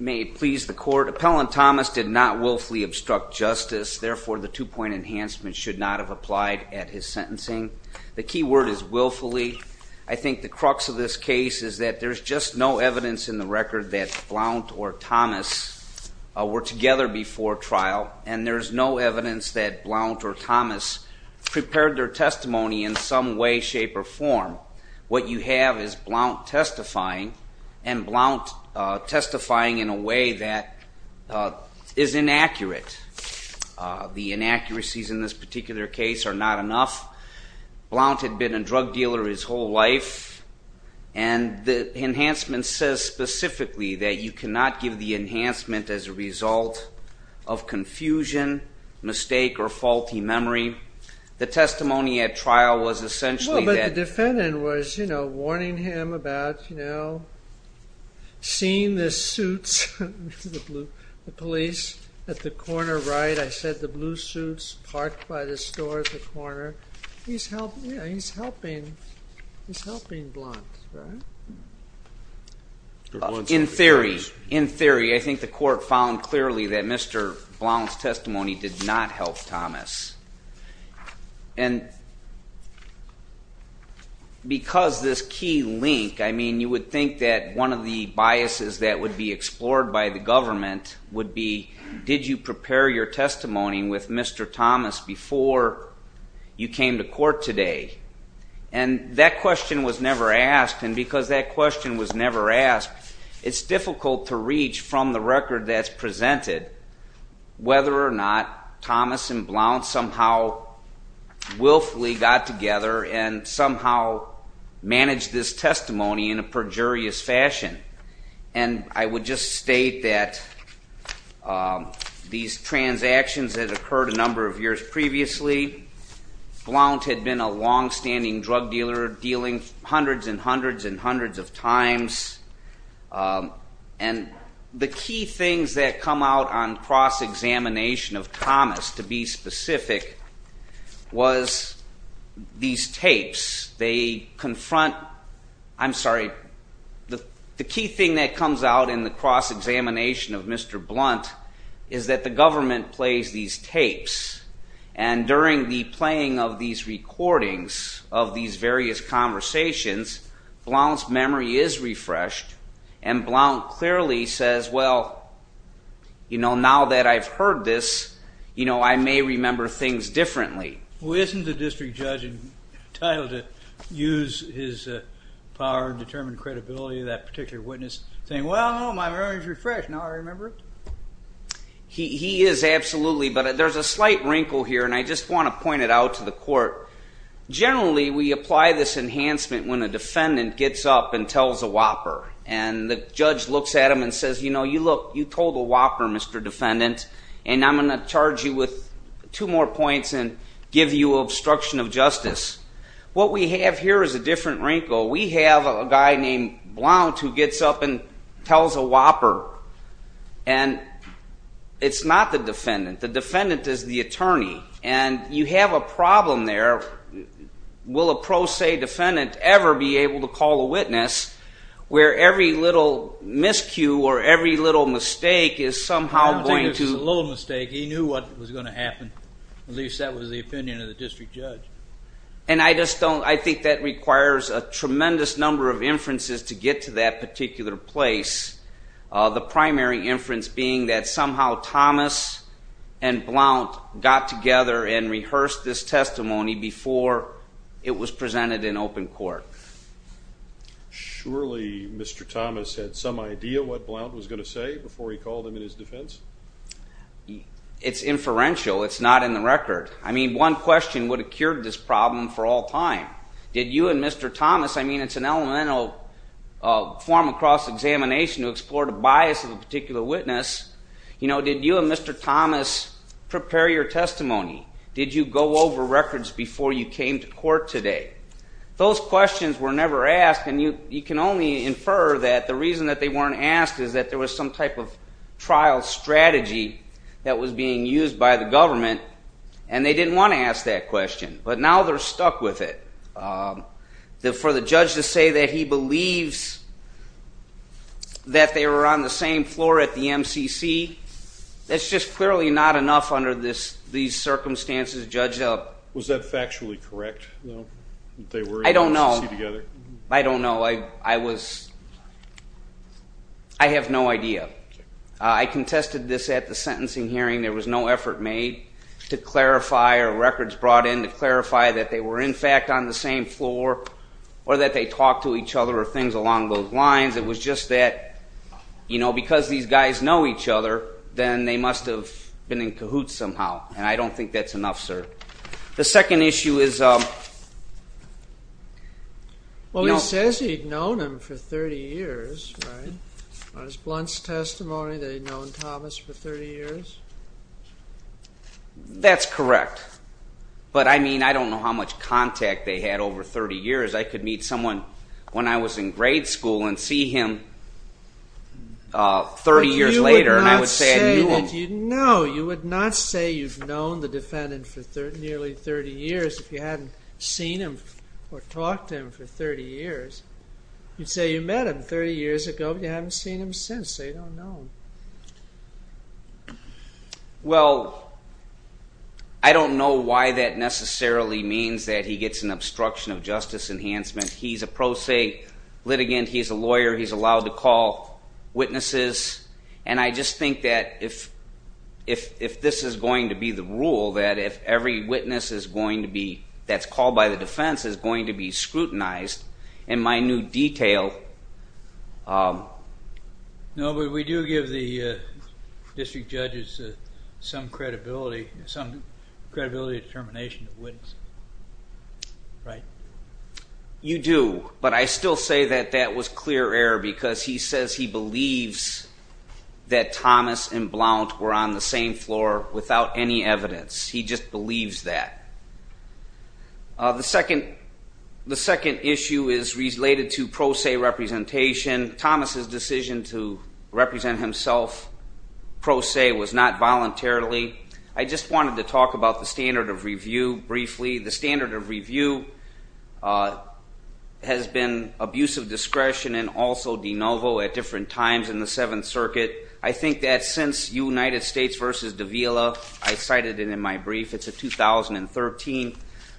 May it please the court, Appellant Thomas did not willfully obstruct justice, therefore the two-point enhancement should not have applied at his sentencing. The key word is willfully. I think the crux of this case is that there's just no evidence in the record that Blount or Thomas were together before trial and there's no evidence that Blount or Thomas prepared their testimony in some way, shape, or form. What you have is Blount testifying and Blount testifying in a way that is inaccurate. The inaccuracies in this particular case are not enough. Blount had been a drug dealer his whole life and the enhancement says specifically that you cannot give the enhancement as a result of confusion, mistake, or faulty memory. The testimony at trial was essentially that- In theory, I think the court found clearly that Mr. Blount's testimony did not help Thomas. Because this key link, I mean, you would think that one of the biases that would be explored by the government would be did you prepare your testimony with Mr. Thomas before you came to court today? That question was never asked and because that question was never asked, it's difficult to reach from the record that's presented whether or not Thomas and Blount somehow willfully got together and somehow managed this testimony in a perjurious fashion. And I would just state that these transactions that occurred a number of years previously, Blount had been a long-standing drug dealer dealing hundreds and hundreds and hundreds of times. And the key things that come out on cross-examination of Thomas to be specific was these tapes. The key thing that comes out in the cross-examination of Mr. Blount is that the government plays these tapes and during the playing of these recordings of these various conversations, Blount's memory is refreshed and Blount clearly says, well, now that I've heard this, I may remember things differently. Well, isn't the district judge entitled to use his power and determine credibility of that particular witness saying, well, my memory is refreshed, now I remember it? He is, absolutely, but there's a slight wrinkle here and I just want to point it out to the court. Generally, we apply this enhancement when a defendant gets up and tells a whopper and the judge looks at him and says, you know, you told a whopper, Mr. Defendant, and I'm going to charge you with two more points and give you obstruction of justice. What we have here is a different wrinkle. We have a guy named Blount who gets up and tells a whopper and it's not the defendant. The defendant is the attorney and you have a problem there. Will a pro se defendant ever be able to call a witness where every little miscue or every little mistake is somehow going to... I don't think it was a little mistake. He knew what was going to happen. At least that was the opinion of the district judge. And I just don't... I think that requires a tremendous number of inferences to get to that particular place. The primary inference being that somehow Thomas and Blount got together and rehearsed this testimony before it was presented in open court. Surely Mr. Thomas had some idea what Blount was going to say before he called him in his defense? It's inferential. It's not in the record. I mean, one question would have cured this problem for all time. Did you and Mr. Thomas... I mean, it's an elemental form of cross-examination to explore the bias of a particular witness. You know, did you and Mr. Thomas prepare your testimony? Did you go over records before you came to court today? Those questions were never asked and you can only infer that the reason that they weren't asked is that there was some type of trial strategy that was being used by the government and they didn't want to ask that question. But now they're stuck with it. For the judge to say that he believes that they were on the same floor at the MCC, that's just clearly not enough under these circumstances, judge. Was that factually correct, though, that they were in the MCC together? I don't know. I don't know. I have no idea. I contested this at the sentencing hearing. There was no effort made to clarify or records brought in to clarify that they were in fact on the same floor or that they talked to each other or things along those lines. It was just that, you know, because these guys know each other, then they must have been in cahoots somehow and I don't think that's enough, sir. The second issue is, well, he says he'd known him for 30 years, right? On his blunts testimony that he'd known Thomas for 30 years? That's correct. But I mean, I don't know how much contact they had over 30 years. I could meet someone when I was in grade school and see him 30 years later and I would say I knew him. No, you would not say you've known the defendant for nearly 30 years if you hadn't seen him or talked to him for 30 years. You'd say you met him 30 years ago but you haven't seen him since, so you don't know him. Well, I don't know why that necessarily means that he gets an obstruction of justice enhancement. He's a pro se litigant, he's a lawyer, he's allowed to call witnesses, and I just think that if this is going to be the rule, that if every witness that's called by the defense is going to be scrutinized in minute detail. No, but we do give the district judges some credibility determination of witnesses, right? You do, but I still say that that was clear error because he says he believes that Thomas and Blount were on the same floor without any evidence. He just believes that. The second issue is related to pro se representation. Thomas' decision to represent himself pro se was not voluntarily. I just wanted to talk about the standard of review briefly. The standard of review has been abuse of discretion and also de novo at different times in the Seventh Circuit. I think that since United States v. Davila, I cited it in my brief, it's a 2013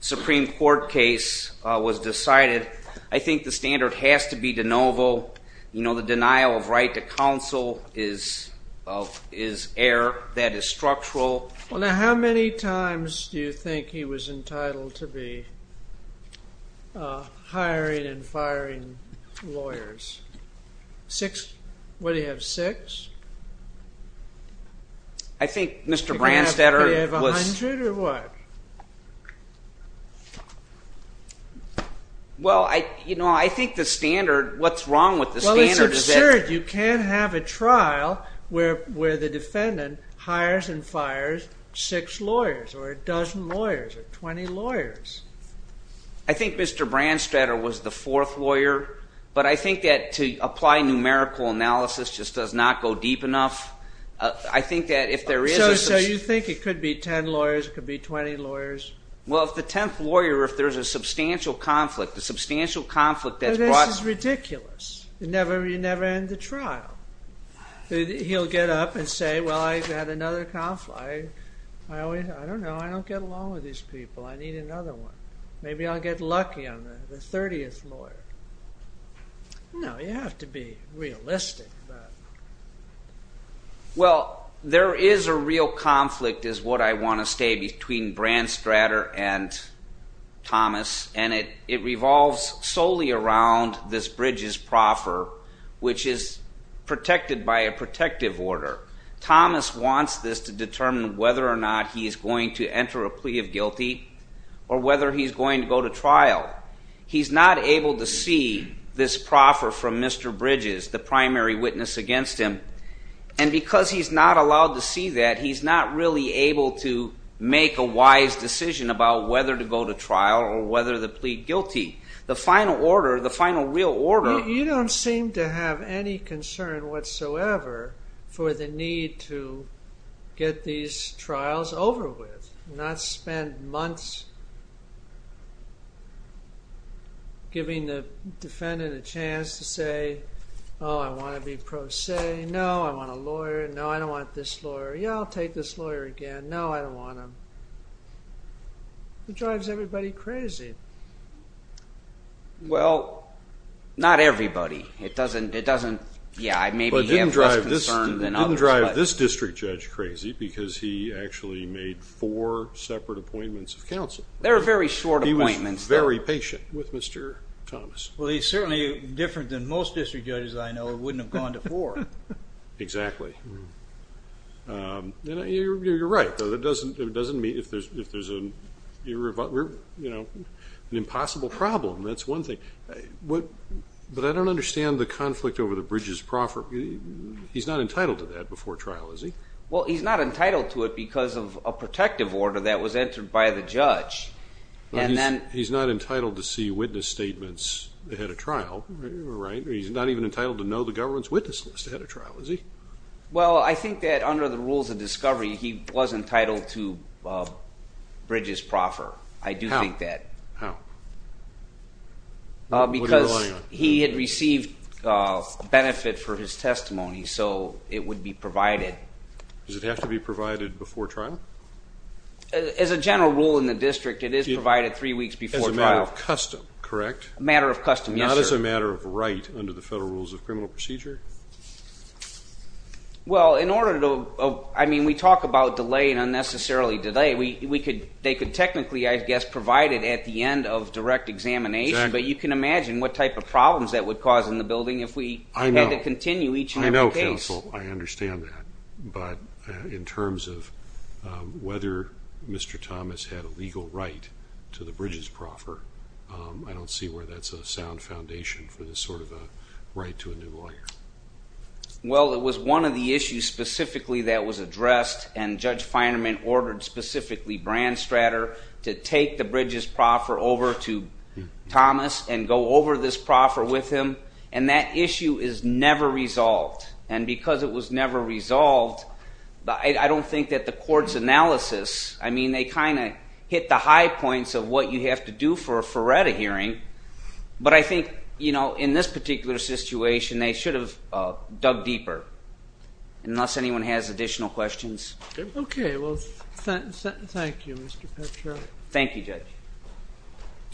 Supreme Court case, was decided. I think the standard has to be de novo. You know, the denial of right to counsel is error. That is structural. Well, now how many times do you think he was entitled to be hiring and firing lawyers? What, do you have six? I think Mr. Branstetter was... Do you have to give a hundred or what? Well, you know, I think the standard, what's wrong with the standard is that... Well, it's absurd. You can't have a trial where the defendant hires and fires six lawyers or a dozen lawyers or 20 lawyers. I think Mr. Branstetter was the fourth lawyer, but I think that to apply numerical analysis just does not go deep enough. I think that if there is... So you think it could be 10 lawyers, it could be 20 lawyers? Well, if the 10th lawyer, if there's a substantial conflict, a substantial conflict that's brought... This is ridiculous. You never end the trial. He'll get up and say, well, I've had another conflict. I don't know. I don't get along with these people. I need another one. Maybe I'll get lucky on the 30th lawyer. No, you have to be realistic. Well, there is a real conflict is what I want to say between Branstetter and Thomas, and it revolves solely around this Bridges proffer, which is protected by a protective order. Thomas wants this to determine whether or not he is going to enter a plea of guilty or whether he's going to go to trial. He's not able to see this proffer from Mr. Bridges, the primary witness against him, and because he's not allowed to see that, he's not really able to make a wise decision about whether to go to trial or whether to plead guilty. The final order, the final real order... You don't seem to have any concern whatsoever for the need to get these trials over with, not spend months giving the defendant a chance to say, oh, I want to be pro se. No, I want a lawyer. No, I don't want this lawyer. Yeah, I'll take this lawyer again. No, I don't want him. It drives everybody crazy. Well, not everybody. It doesn't... Yeah, maybe he has less concern than others. It didn't drive this district judge crazy because he actually made four separate appointments of counsel. They were very short appointments. He was very patient with Mr. Thomas. Well, he's certainly different than most district judges I know who wouldn't have gone to four. Exactly. You're right, though. It doesn't mean if there's an impossible problem, that's one thing. But I don't understand the conflict over the Bridges proffer. He's not entitled to that before trial, is he? Well, he's not entitled to it because of a protective order that was entered by the judge. He's not entitled to see witness statements ahead of trial, right? He's not even entitled to know the government's witness list ahead of trial, is he? Well, I think that under the rules of discovery, he was entitled to Bridges proffer. I do think that. How? What are you relying on? Because he had received benefit for his testimony, so it would be provided. Does it have to be provided before trial? As a general rule in the district, it is provided three weeks before trial. As a matter of custom, correct? A matter of custom, yes, sir. Not as a matter of right under the federal rules of criminal procedure? Well, in order to, I mean, we talk about delay and unnecessarily delay. They could technically, I guess, provide it at the end of direct examination. But you can imagine what type of problems that would cause in the building if we had to continue each and every case. I know, counsel. I understand that. But in terms of whether Mr. Thomas had a legal right to the Bridges proffer, I don't see where that's a sound foundation for this sort of a right to a new lawyer. Well, it was one of the issues specifically that was addressed, and Judge Feinerman ordered specifically Branstrader to take the Bridges proffer over to Thomas and go over this proffer with him. And that issue is never resolved. And because it was never resolved, I don't think that the court's analysis, I mean, they kind of hit the high points of what you have to do for a Ferretta hearing. But I think, you know, in this particular situation, they should have dug deeper, unless anyone has additional questions. Okay. Well, thank you, Mr. Petroff. Thank you, Judge.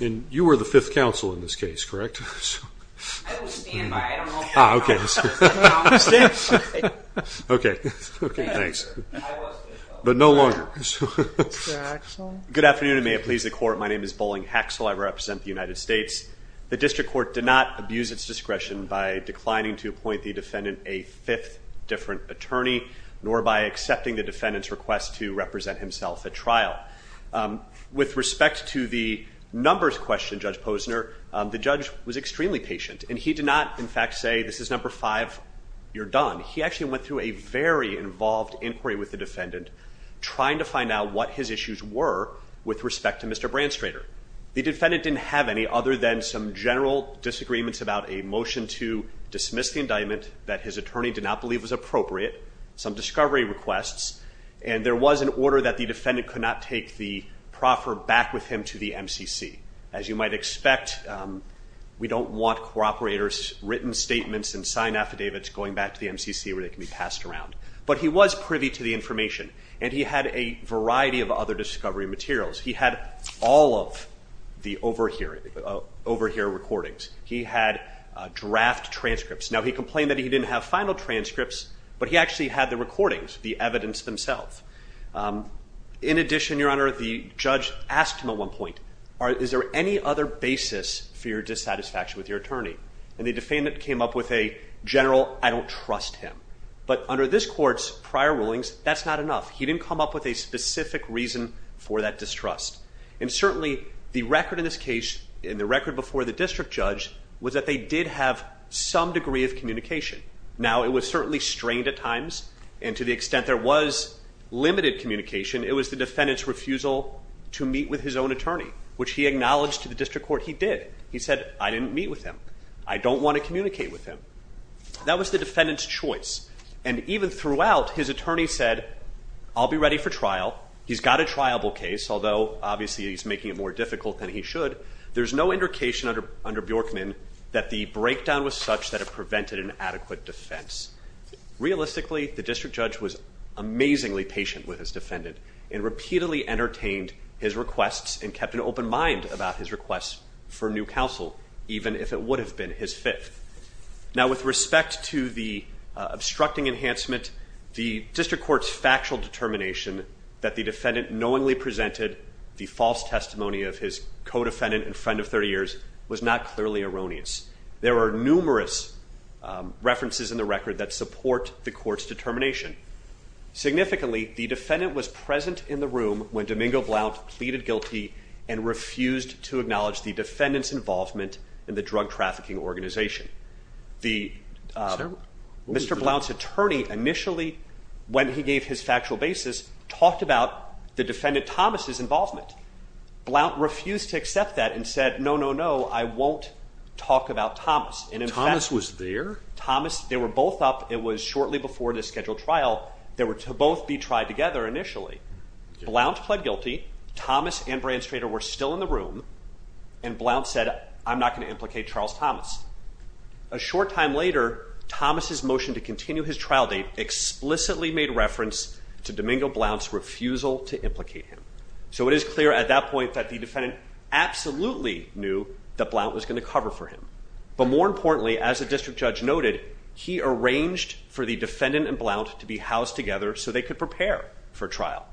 And you were the fifth counsel in this case, correct? I was standby. I don't know if you heard me. Oh, okay. I was standby. Okay. Okay, thanks. But no longer. Mr. Haxel. Good afternoon, and may it please the Court. My name is Boling Haxel. I represent the United States. The district court did not abuse its discretion by declining to appoint the defendant a fifth different attorney, nor by accepting the defendant's request to represent himself at trial. With respect to the numbers question, Judge Posner, the judge was extremely patient, and he did not, in fact, say, this is number five, you're done. He actually went through a very involved inquiry with the defendant, trying to find out what his issues were with respect to Mr. Branstrader. The defendant didn't have any other than some general disagreements about a motion to dismiss the indictment that his attorney did not believe was appropriate, some discovery requests, and there was an order that the defendant could not take the proffer back with him to the MCC. As you might expect, we don't want cooperators' written statements and signed affidavits going back to the MCC where they can be passed around. But he was privy to the information, and he had a variety of other discovery materials. He had all of the overhear recordings. He had draft transcripts. Now, he complained that he didn't have final transcripts, but he actually had the recordings, the evidence themselves. In addition, Your Honor, the judge asked him at one point, is there any other basis for your dissatisfaction with your attorney? And the defendant came up with a general, I don't trust him. But under this court's prior rulings, that's not enough. He didn't come up with a specific reason for that distrust. And certainly, the record in this case and the record before the district judge was that they did have some degree of communication. Now, it was certainly strained at times, and to the extent there was limited communication, it was the defendant's refusal to meet with his own attorney, which he acknowledged to the district court he did. He said, I didn't meet with him. I don't want to communicate with him. That was the defendant's choice. And even throughout, his attorney said, I'll be ready for trial. He's got a triable case, although obviously he's making it more difficult than he should. There's no indication under Bjorkman that the breakdown was such that it prevented an adequate defense. Realistically, the district judge was amazingly patient with his defendant and repeatedly entertained his requests and kept an open mind about his requests for new counsel, even if it would have been his fifth. Now, with respect to the obstructing enhancement, the district court's factual determination that the defendant knowingly presented the false testimony of his co-defendant and friend of 30 years was not clearly erroneous. There are numerous references in the record that support the court's determination. Significantly, the defendant was present in the room when Domingo Blount pleaded guilty and refused to acknowledge the defendant's involvement in the drug trafficking organization. Mr. Blount's attorney initially, when he gave his factual basis, talked about the defendant Thomas' involvement. Blount refused to accept that and said, no, no, no, I won't talk about Thomas. Thomas was there? Thomas, they were both up. It was shortly before the scheduled trial. They were to both be tried together initially. Blount pled guilty. Thomas and Brian Strader were still in the room, and Blount said, I'm not going to implicate Charles Thomas. A short time later, Thomas' motion to continue his trial date explicitly made reference to Domingo Blount's refusal to implicate him. So it is clear at that point that the defendant absolutely knew that Blount was going to cover for him. But more importantly, as the district judge noted, he arranged for the defendant and Blount to be housed together so they could prepare for trial.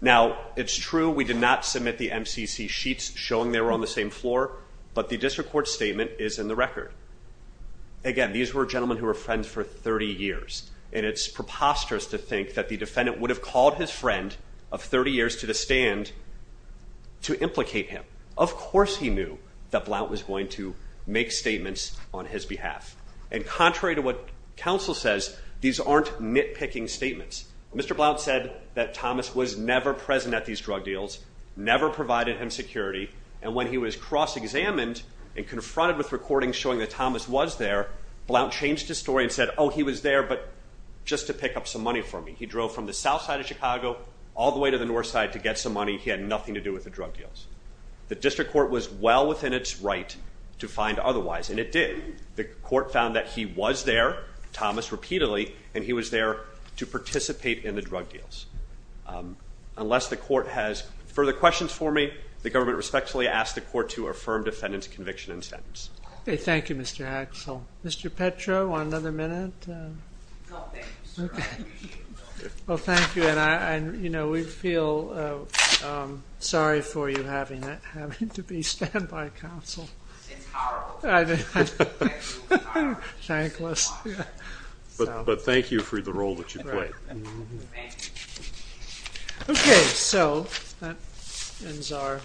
Now, it's true we did not submit the MCC sheets showing they were on the same floor, but the district court statement is in the record. Again, these were gentlemen who were friends for 30 years, and it's preposterous to think that the defendant would have called his friend of 30 years to the stand to implicate him. Of course he knew that Blount was going to make statements on his behalf. And contrary to what counsel says, these aren't nitpicking statements. Mr. Blount said that Thomas was never present at these drug deals, never provided him security, and when he was cross-examined and confronted with recordings showing that Thomas was there, Blount changed his story and said, oh, he was there but just to pick up some money for me. He drove from the south side of Chicago all the way to the north side to get some money. He had nothing to do with the drug deals. The district court was well within its right to find otherwise, and it did. The court found that he was there, Thomas repeatedly, and he was there to participate in the drug deals. Unless the court has further questions for me, the government respectfully asks the court to affirm defendant's conviction and sentence. Okay, thank you, Mr. Axel. Mr. Petro, another minute? No, thank you, sir. Okay. Well, thank you, and, you know, we feel sorry for you having to be standby counsel. It's horrible. Thankless. But thank you for the role that you played. Okay, so that ends our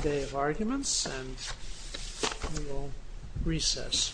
day of arguments, and we will recess.